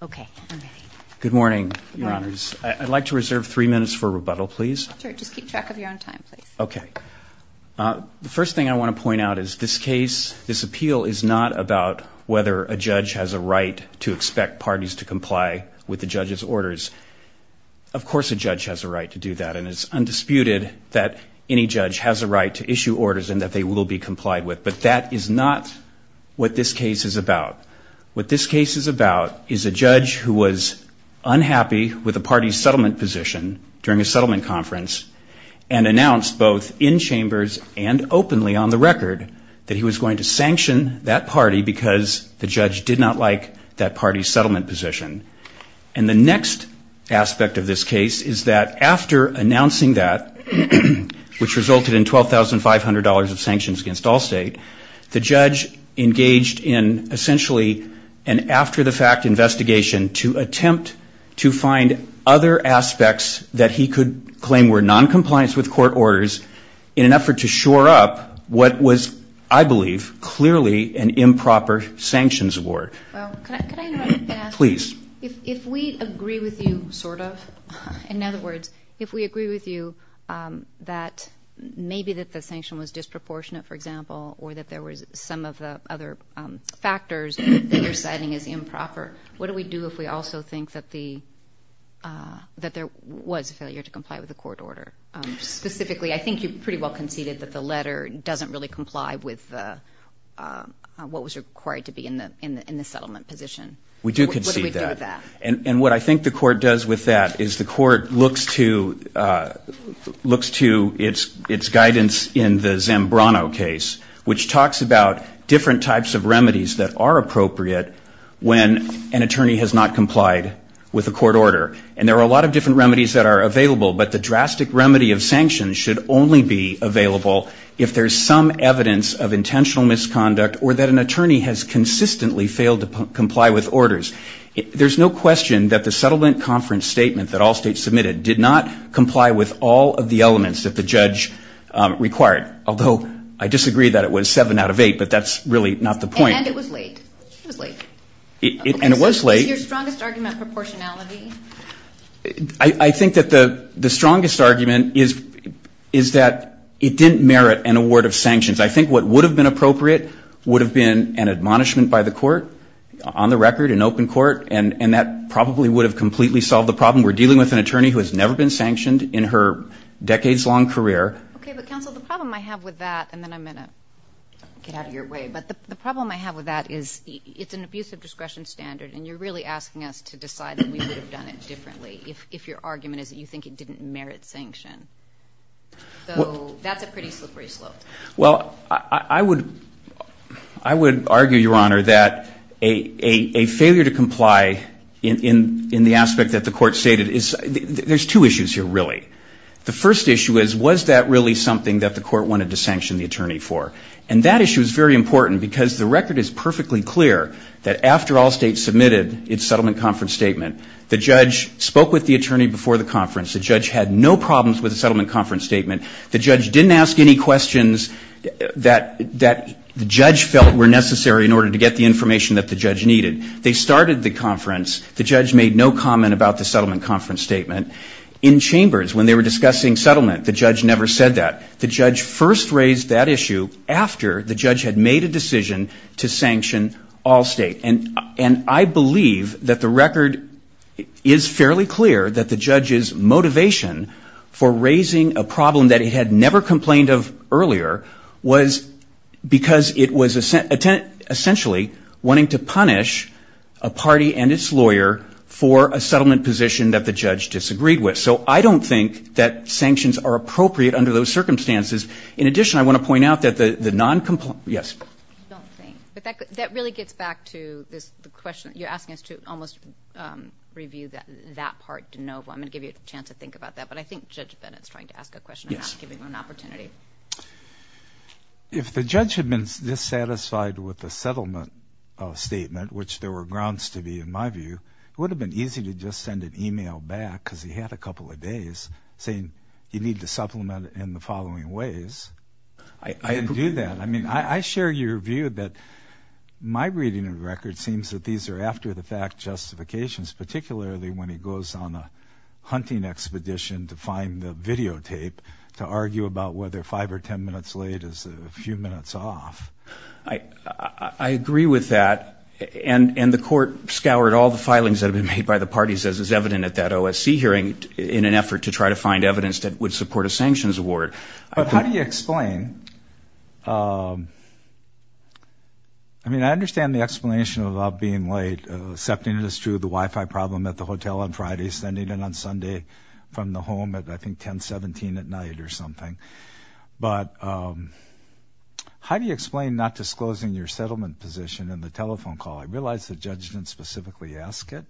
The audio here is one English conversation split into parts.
Okay. Good morning, Your Honors. I'd like to reserve three minutes for rebuttal, please. Sure. Just keep track of your own time, please. Okay. The first thing I want to point out is this case, this appeal, is not about whether a judge has a right to expect parties to comply with the judge's orders. Of course a judge has a right to do that, and it's undisputed that any judge has a right to issue orders and that they will be complied with, but that is not what this case is about. What this case is about is a judge who was unhappy with a party's settlement position during a settlement conference and announced both in chambers and openly on the record that he was going to sanction that party because the judge did not like that party's settlement position. And the next aspect of this case is that after announcing that, which resulted in $12,500 of sanctions against Allstate, the judge engaged in essentially an after-the-fact investigation to attempt to find other aspects that he could claim were noncompliance with court orders in an effort to shore up what was, I believe, clearly an improper sanctions award. Well, could I interrupt and ask? Please. If we agree with you, sort of, in other words, if we agree with you that maybe that the sanction was disproportionate, for example, or that there was some of the other factors that you're citing as improper, what do we do if we also think that there was a failure to comply with the court order? Specifically, I think you pretty well conceded that the letter doesn't really comply with what was required to be in the settlement position. We do concede that. What do we do with that? which talks about different types of remedies that are appropriate when an attorney has not complied with a court order. And there are a lot of different remedies that are available, but the drastic remedy of sanctions should only be available if there's some evidence of intentional misconduct or that an attorney has consistently failed to comply with orders. There's no question that the settlement conference statement that Allstate submitted did not comply with all of the elements that the judge required, although I disagree that it was seven out of eight, but that's really not the point. And it was late. It was late. And it was late. Is your strongest argument proportionality? I think that the strongest argument is that it didn't merit an award of sanctions. I think what would have been appropriate would have been an admonishment by the court, on the record, an open court, and that probably would have completely solved the problem. We're dealing with an attorney who has never been sanctioned in her decades-long career. Okay, but, counsel, the problem I have with that, and then I'm going to get out of your way, but the problem I have with that is it's an abuse of discretion standard, and you're really asking us to decide that we would have done it differently if your argument is that you think it didn't merit sanction. So that's a pretty slippery slope. Well, I would argue, Your Honor, that a failure to comply in the aspect that the court stated is, there's two issues here, really. The first issue is, was that really something that the court wanted to sanction the attorney for? And that issue is very important because the record is perfectly clear that after Allstate submitted its settlement conference statement, the judge spoke with the attorney before the conference. The judge had no problems with the settlement conference statement. The judge didn't ask any questions that the judge felt were necessary in order to get the information that the judge needed. They started the conference. The judge made no comment about the settlement conference statement. In chambers, when they were discussing settlement, the judge never said that. The judge first raised that issue after the judge had made a decision to sanction Allstate. And I believe that the record is fairly clear that the judge's motivation for raising a problem that he had never complained of earlier was because it was essentially wanting to punish a party and its lawyer for a settlement position that the judge disagreed with. So I don't think that sanctions are appropriate under those circumstances. In addition, I want to point out that the non-compliant – yes? I don't think. But that really gets back to the question you're asking us to almost review that part de novo. I'm going to give you a chance to think about that. But I think Judge Bennett is trying to ask a question. I'm not giving him an opportunity. If the judge had been dissatisfied with the settlement statement, which there were grounds to be in my view, it would have been easy to just send an email back because he had a couple of days saying you need to supplement it in the following ways. I didn't do that. I mean, I share your view that my reading of the record seems that these are after-the-fact justifications, particularly when he goes on a hunting expedition to find the videotape to argue about whether five or ten minutes late is a few minutes off. I agree with that. And the court scoured all the filings that had been made by the parties, as is evident at that OSC hearing, in an effort to try to find evidence that would support a sanctions award. But how do you explain? I mean, I understand the explanation about being late. Accepting it is true, the Wi-Fi problem at the hotel on Friday, sending in on Sunday from the home at I think 10, 17 at night or something. But how do you explain not disclosing your settlement position in the telephone call? I realize the judge didn't specifically ask it.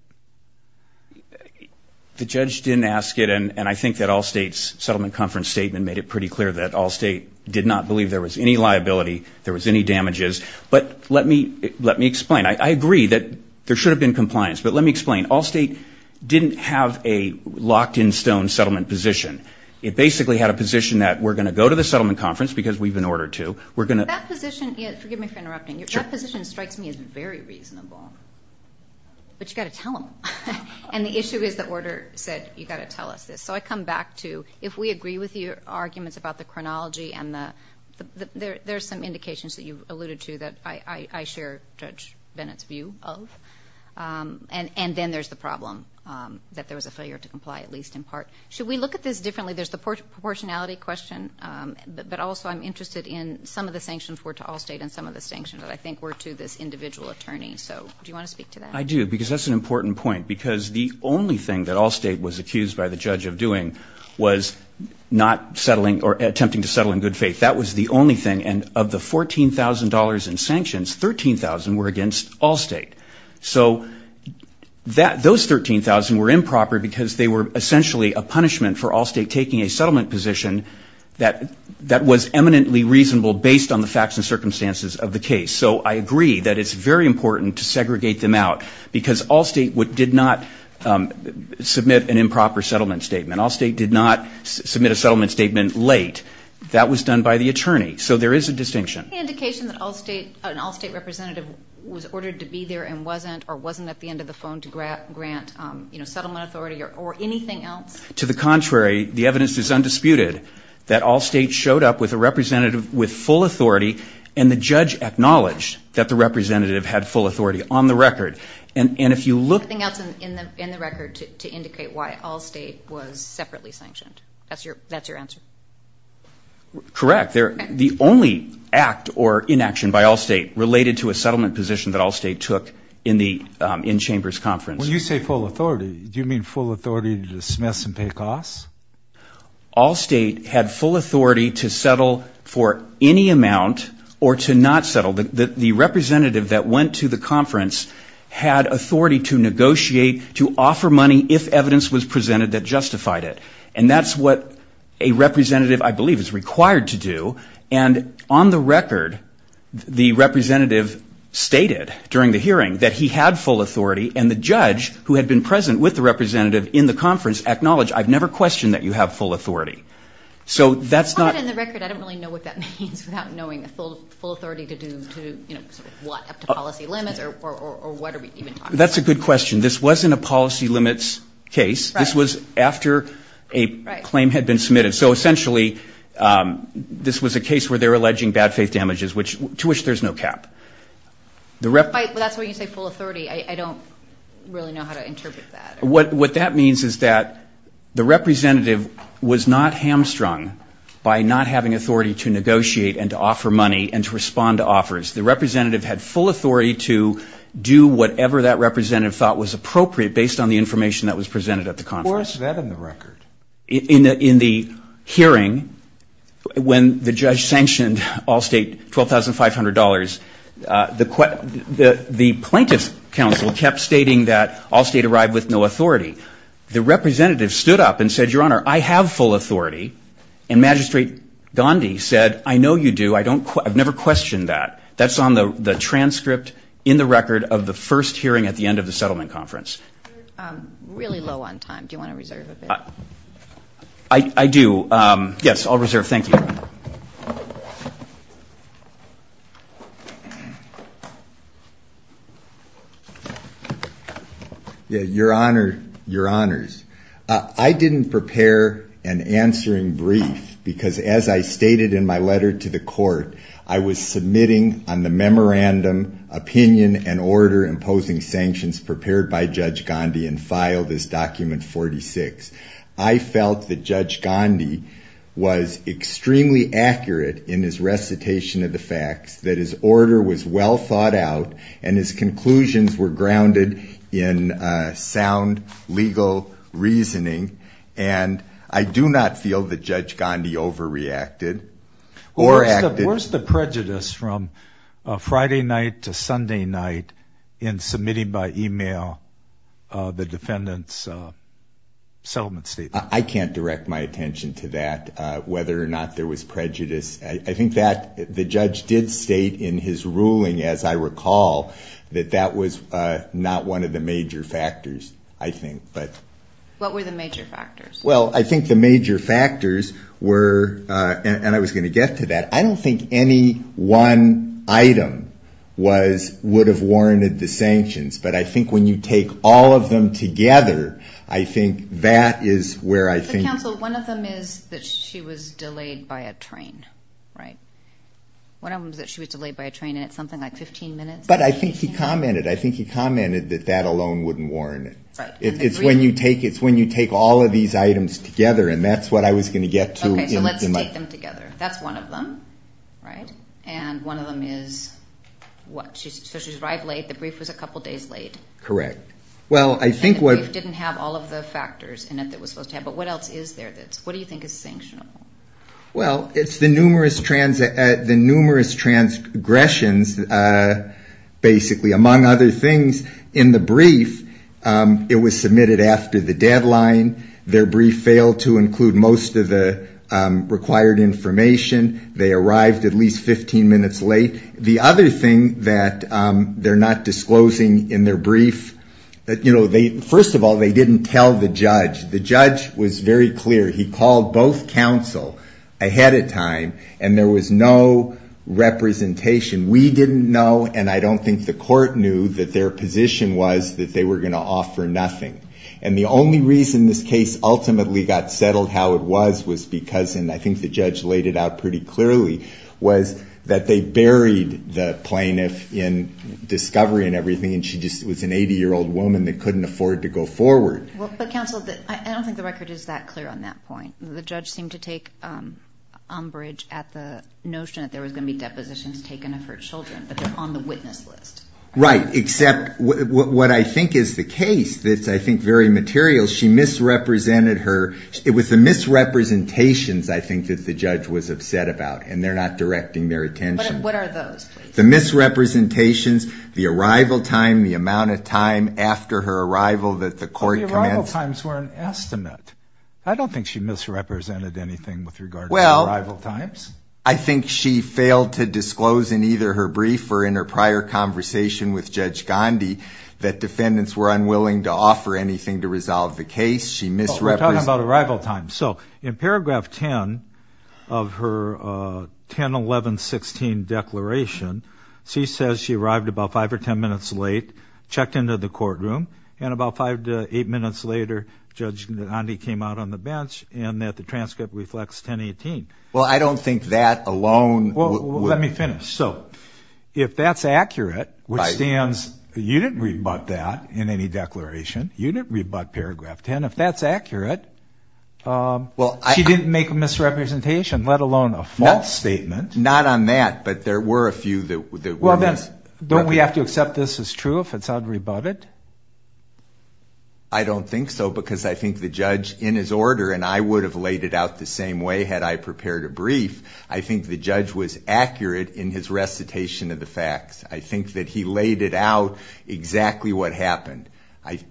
The judge didn't ask it, and I think that Allstate's settlement conference statement made it pretty clear that Allstate did not believe there was any liability, there was any damages. But let me explain. I agree that there should have been compliance. But let me explain. Allstate didn't have a locked in stone settlement position. It basically had a position that we're going to go to the settlement conference because we've been ordered to. That position strikes me as very reasonable, but you've got to tell them. And the issue is the order said you've got to tell us this. So I come back to if we agree with your arguments about the chronology, there are some indications that you've alluded to that I share Judge Bennett's view of. And then there's the problem that there was a failure to comply, at least in part. Should we look at this differently? There's the proportionality question, but also I'm interested in some of the sanctions were to Allstate and some of the sanctions I think were to this individual attorney. So do you want to speak to that? I do because that's an important point because the only thing that Allstate was accused by the judge of doing was not settling or attempting to settle in good faith. That was the only thing. And of the $14,000 in sanctions, 13,000 were against Allstate. So those 13,000 were improper because they were essentially a punishment for Allstate taking a settlement position that was eminently reasonable based on the facts and circumstances of the case. So I agree that it's very important to segregate them out because Allstate did not submit an improper settlement statement. Allstate did not submit a settlement statement late. That was done by the attorney. So there is a distinction. Any indication that an Allstate representative was ordered to be there and wasn't or wasn't at the end of the phone to grant settlement authority or anything else? To the contrary, the evidence is undisputed that Allstate showed up with a representative with full authority and the judge acknowledged that the representative had full authority on the record. Anything else in the record to indicate why Allstate was separately sanctioned? That's your answer? Correct. The only act or inaction by Allstate related to a settlement position that Allstate took in the in-chambers conference. When you say full authority, do you mean full authority to dismiss and pay costs? Allstate had full authority to settle for any amount or to not settle. The representative that went to the conference had authority to negotiate, to offer money if evidence was presented that justified it. And that's what a representative, I believe, is required to do. And on the record, the representative stated during the hearing that he had full authority, and the judge, who had been present with the representative in the conference, acknowledged, I've never questioned that you have full authority. On the record, I don't really know what that means without knowing full authority to do what, up to policy limits, or what are we even talking about? That's a good question. This wasn't a policy limits case. This was after a claim had been submitted. So essentially, this was a case where they were alleging bad faith damages, to which there's no cap. That's why you say full authority. I don't really know how to interpret that. What that means is that the representative was not hamstrung by not having authority to negotiate and to offer money and to respond to offers. The representative had full authority to do whatever that representative thought was appropriate based on the information that was presented at the conference. Where is that in the record? In the hearing, when the judge sanctioned Allstate $12,500, the plaintiff's counsel kept stating that Allstate arrived with no authority. The representative stood up and said, Your Honor, I have full authority. And Magistrate Gandhi said, I know you do. I've never questioned that. That's on the transcript in the record of the first hearing at the end of the settlement conference. You're really low on time. Do you want to reserve a bit? I do. Yes, I'll reserve. Thank you. Your Honor, Your Honors, I didn't prepare an answering brief because as I stated in my letter to the court, I was submitting on the memorandum opinion and order imposing sanctions prepared by Judge Gandhi and filed as Document 46. I felt that Judge Gandhi was extremely accurate in his recitation of the facts, that his order was well thought out, and his conclusions were grounded in sound legal reasoning. And I do not feel that Judge Gandhi overreacted or acted. Where's the prejudice from Friday night to Sunday night in submitting by e-mail the defendant's settlement statement? I can't direct my attention to that, whether or not there was prejudice. I think that the judge did state in his ruling, as I recall, that that was not one of the major factors, I think. What were the major factors? Well, I think the major factors were, and I was going to get to that, I don't think any one item would have warranted the sanctions. But I think when you take all of them together, I think that is where I think. Counsel, one of them is that she was delayed by a train, right? One of them is that she was delayed by a train and it's something like 15 minutes. But I think he commented, I think he commented that that alone wouldn't warrant it. Right. It's when you take all of these items together, and that's what I was going to get to. Okay, so let's take them together. That's one of them, right? And one of them is what? So she arrived late. The brief was a couple days late. Correct. And the brief didn't have all of the factors in it that it was supposed to have. But what else is there? What do you think is sanctionable? Well, it's the numerous transgressions, basically, among other things. In the brief, it was submitted after the deadline. Their brief failed to include most of the required information. They arrived at least 15 minutes late. The other thing that they're not disclosing in their brief, you know, first of all, they didn't tell the judge. The judge was very clear. He called both counsel ahead of time, and there was no representation. We didn't know, and I don't think the court knew, that their position was that they were going to offer nothing. And the only reason this case ultimately got settled how it was was because, and I think the judge laid it out pretty clearly, was that they buried the plaintiff in discovery and everything, and she just was an 80-year-old woman that couldn't afford to go forward. But, counsel, I don't think the record is that clear on that point. The judge seemed to take umbrage at the notion that there was going to be depositions taken of her children, but they're on the witness list. Right, except what I think is the case that's, I think, very material, she misrepresented her. It was the misrepresentations, I think, that the judge was upset about, and they're not directing their attention. What are those, please? The misrepresentations, the arrival time, the amount of time after her arrival that the court commenced. But the arrival times were an estimate. I don't think she misrepresented anything with regard to arrival times. I think she failed to disclose in either her brief or in her prior conversation with Judge Gandhi that defendants were unwilling to offer anything to resolve the case. We're talking about arrival times. So in paragraph 10 of her 10-11-16 declaration, she says she arrived about 5 or 10 minutes late, checked into the courtroom, and about 5 to 8 minutes later Judge Gandhi came out on the bench and that the transcript reflects 10-18. Well, I don't think that alone. Well, let me finish. So if that's accurate, which stands, you didn't rebut that in any declaration. You didn't rebut paragraph 10. If that's accurate, she didn't make a misrepresentation, let alone a false statement. Not on that, but there were a few that were misrepresentations. Don't we have to accept this as true if it's unrebutted? I don't think so because I think the judge, in his order, and I would have laid it out the same way had I prepared a brief, I think the judge was accurate in his recitation of the facts. I think that he laid it out exactly what happened.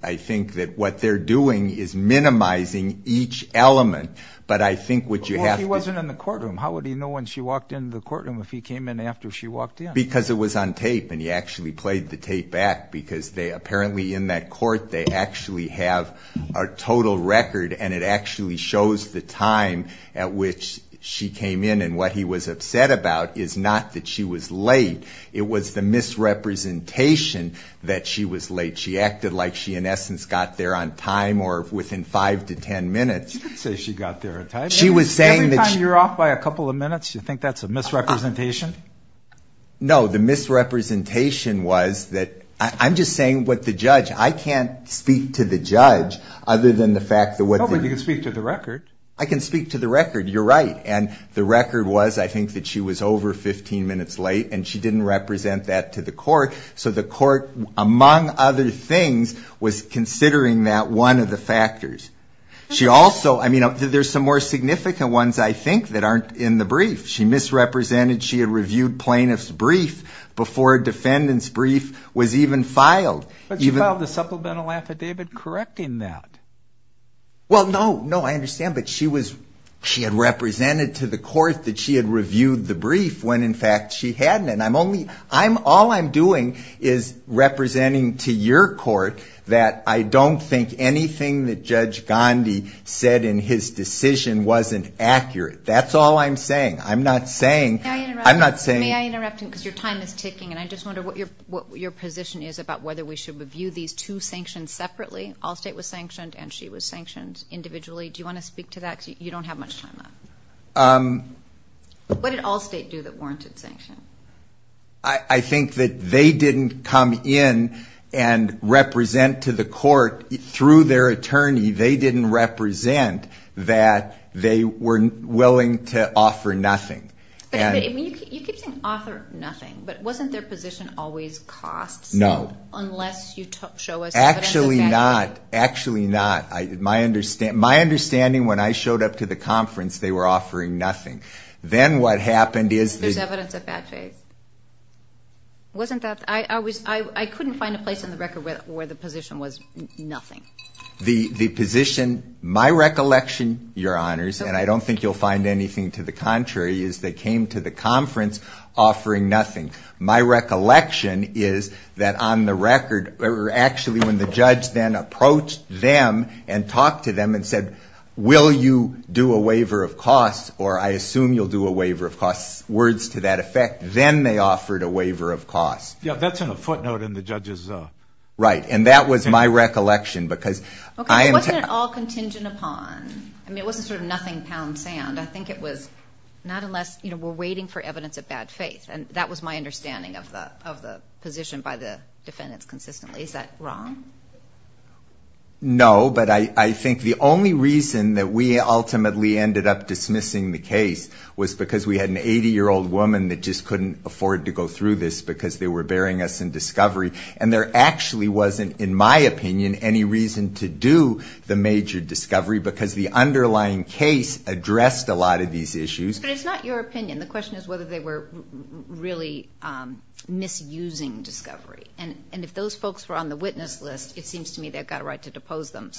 I think that what they're doing is minimizing each element, but I think what you have to do is Well, she wasn't in the courtroom. How would he know when she walked into the courtroom if he came in after she walked in? Because it was on tape and he actually played the tape back because apparently in that court they actually have a total record and it actually shows the time at which she came in. And what he was upset about is not that she was late. It was the misrepresentation that she was late. She acted like she, in essence, got there on time or within 5 to 10 minutes. You didn't say she got there on time. Every time you're off by a couple of minutes, you think that's a misrepresentation? No. The misrepresentation was that I'm just saying what the judge, I can't speak to the judge other than the fact that what the Oh, but you can speak to the record. I can speak to the record. You're right. And the record was, I think, that she was over 15 minutes late and she didn't represent that to the court. So the court, among other things, was considering that one of the factors. She also, I mean, there's some more significant ones, I think, that aren't in the brief. She misrepresented she had reviewed plaintiff's brief before a defendant's brief was even filed. But she filed a supplemental affidavit correcting that. Well, no. No, I understand. But she had represented to the court that she had reviewed the brief when, in fact, she hadn't. All I'm doing is representing to your court that I don't think anything that Judge Gandhi said in his decision wasn't accurate. That's all I'm saying. I'm not saying. May I interrupt? I'm not saying. May I interrupt? Because your time is ticking. And I just wonder what your position is about whether we should review these two sanctions separately. Allstate was sanctioned and she was sanctioned individually. Do you want to speak to that? Because you don't have much time left. What did Allstate do that warranted sanction? I think that they didn't come in and represent to the court through their attorney. They didn't represent that they were willing to offer nothing. You keep saying offer nothing. But wasn't their position always costs? No. Unless you show us evidence of bad faith. Actually not. Actually not. My understanding, when I showed up to the conference, they were offering nothing. Then what happened is the – There's evidence of bad faith. Wasn't that – I couldn't find a place in the record where the position was nothing. The position, my recollection, your honors, and I don't think you'll find anything to the contrary, is they came to the conference offering nothing. My recollection is that on the record, or actually when the judge then approached them and talked to them and said, will you do a waiver of costs, or I assume you'll do a waiver of costs, words to that effect, then they offered a waiver of costs. Yeah, that's in a footnote in the judge's – Right, and that was my recollection because – Okay, wasn't it all contingent upon – I mean, it wasn't sort of nothing pound sand. I think it was not unless we're waiting for evidence of bad faith, and that was my understanding of the position by the defendants consistently. Is that wrong? No, but I think the only reason that we ultimately ended up dismissing the case was because we had an 80-year-old woman that just couldn't afford to go through this because they were burying us in discovery. And there actually wasn't, in my opinion, any reason to do the major discovery because the underlying case addressed a lot of these issues. But it's not your opinion. The question is whether they were really misusing discovery. And if those folks were on the witness list, it seems to me they've got a right to depose them.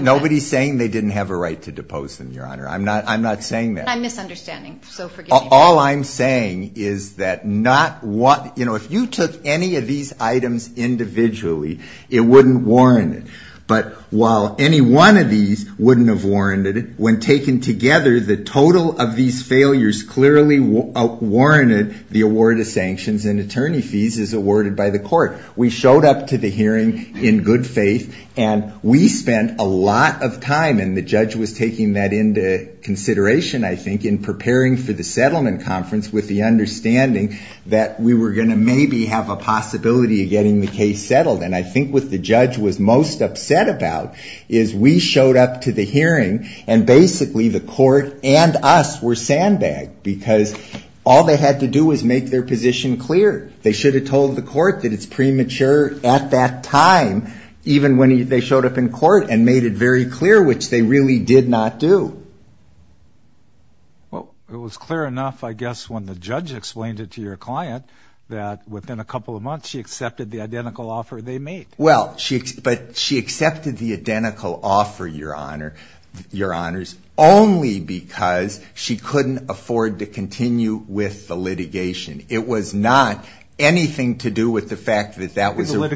Nobody's saying they didn't have a right to depose them, Your Honor. I'm not saying that. I'm misunderstanding, so forgive me. All I'm saying is that if you took any of these items individually, it wouldn't warrant it. But while any one of these wouldn't have warranted it, when taken together the total of these failures clearly warranted the award of sanctions and attorney fees as awarded by the court. We showed up to the hearing in good faith, and we spent a lot of time, and the judge was taking that into consideration, I think, in preparing for the settlement conference with the understanding that we were going to maybe have a possibility of getting the case settled. And I think what the judge was most upset about is we showed up to the hearing and basically the court and us were sandbagged because all they had to do was make their position clear. They should have told the court that it's premature at that time, even when they showed up in court and made it very clear, which they really did not do. Well, it was clear enough, I guess, when the judge explained it to your client that within a couple of months she accepted the identical offer they made. Well, but she accepted the identical offer, Your Honors, only because she couldn't afford to continue with the litigation. It was not anything to do with the fact that that was a... But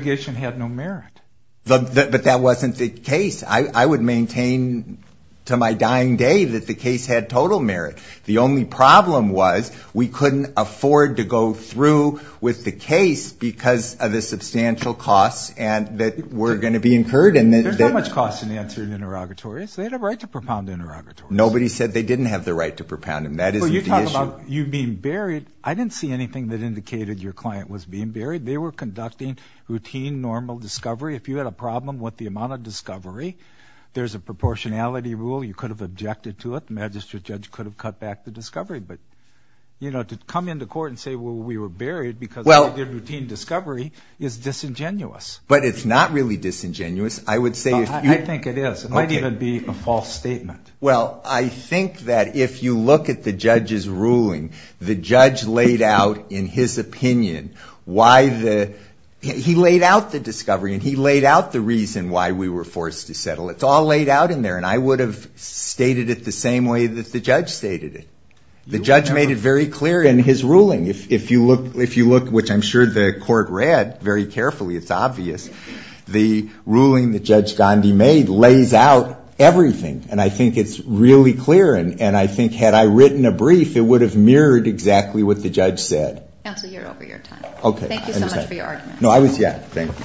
that wasn't the case. I would maintain to my dying day that the case had total merit. The only problem was we couldn't afford to go through with the case because of the substantial costs that were going to be incurred. There's not much cost in answering interrogatories. They had a right to propound interrogatories. Nobody said they didn't have the right to propound them. That isn't the issue. Well, you talk about you being buried. I didn't see anything that indicated your client was being buried. They were conducting routine, normal discovery. If you had a problem with the amount of discovery, there's a proportionality rule. You could have objected to it. The magistrate judge could have cut back the discovery. But, you know, to come into court and say, well, we were buried because they did routine discovery is disingenuous. But it's not really disingenuous. I would say if you... I think it is. It might even be a false statement. Well, I think that if you look at the judge's ruling, the judge laid out in his opinion why the... he laid out the discovery and he laid out the reason why we were forced to settle. It's all laid out in there. And I would have stated it the same way that the judge stated it. The judge made it very clear in his ruling. If you look, which I'm sure the court read very carefully, it's obvious. The ruling that Judge Gandhi made lays out everything. And I think it's really clear. And I think had I written a brief, it would have mirrored exactly what the judge said. Counsel, you're over your time. Okay. Thank you so much for your argument. No, I was... Yeah. Thank you.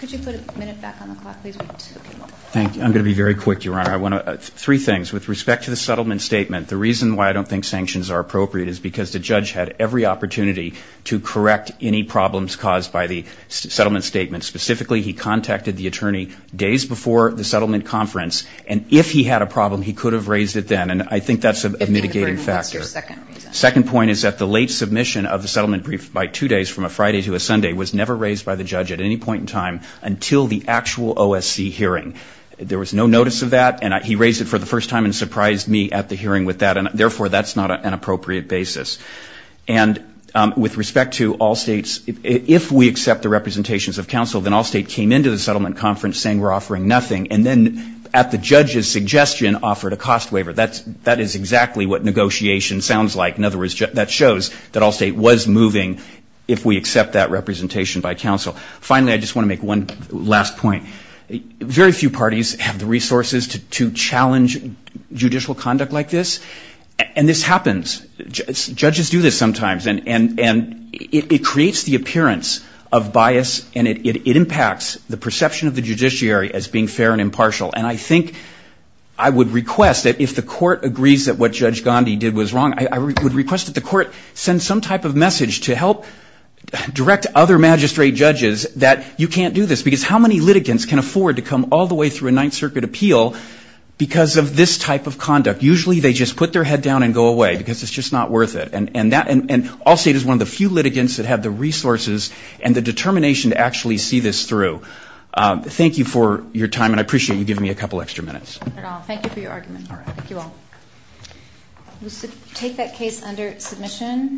Could you put a minute back on the clock, please? Thank you. I'm going to be very quick, Your Honor. I want to... Three things. With respect to the settlement statement, the reason why I don't think sanctions are appropriate is because the judge had every opportunity to correct any problems caused by the settlement statement. Specifically, he contacted the attorney days before the settlement conference. And if he had a problem, he could have raised it then. And I think that's a mitigating factor. That's your second reason. Second point is that the late submission of the settlement brief by two days, from a Friday to a Sunday, was never raised by the judge at any point in time until the actual OSC hearing. There was no notice of that. And he raised it for the first time and surprised me at the hearing with that. And, therefore, that's not an appropriate basis. And with respect to all states, if we accept the representations of counsel, then all states came into the settlement conference saying we're offering nothing. And then at the judge's suggestion, offered a cost waiver. That is exactly what negotiation sounds like. In other words, that shows that all state was moving if we accept that representation by counsel. Finally, I just want to make one last point. Very few parties have the resources to challenge judicial conduct like this. And this happens. Judges do this sometimes. And it creates the appearance of bias, and it impacts the perception of the judiciary as being fair and impartial. And I think I would request that if the court agrees that what Judge Gandhi did was wrong, I would request that the court send some type of message to help direct other magistrate judges that you can't do this. Because how many litigants can afford to come all the way through a Ninth Circuit appeal because of this type of conduct? Usually they just put their head down and go away because it's just not worth it. And all state is one of the few litigants that have the resources and the determination to actually see this through. Thank you for your time, and I appreciate you giving me a couple extra minutes. Thank you for your argument. Thank you all. We'll take that case under submission.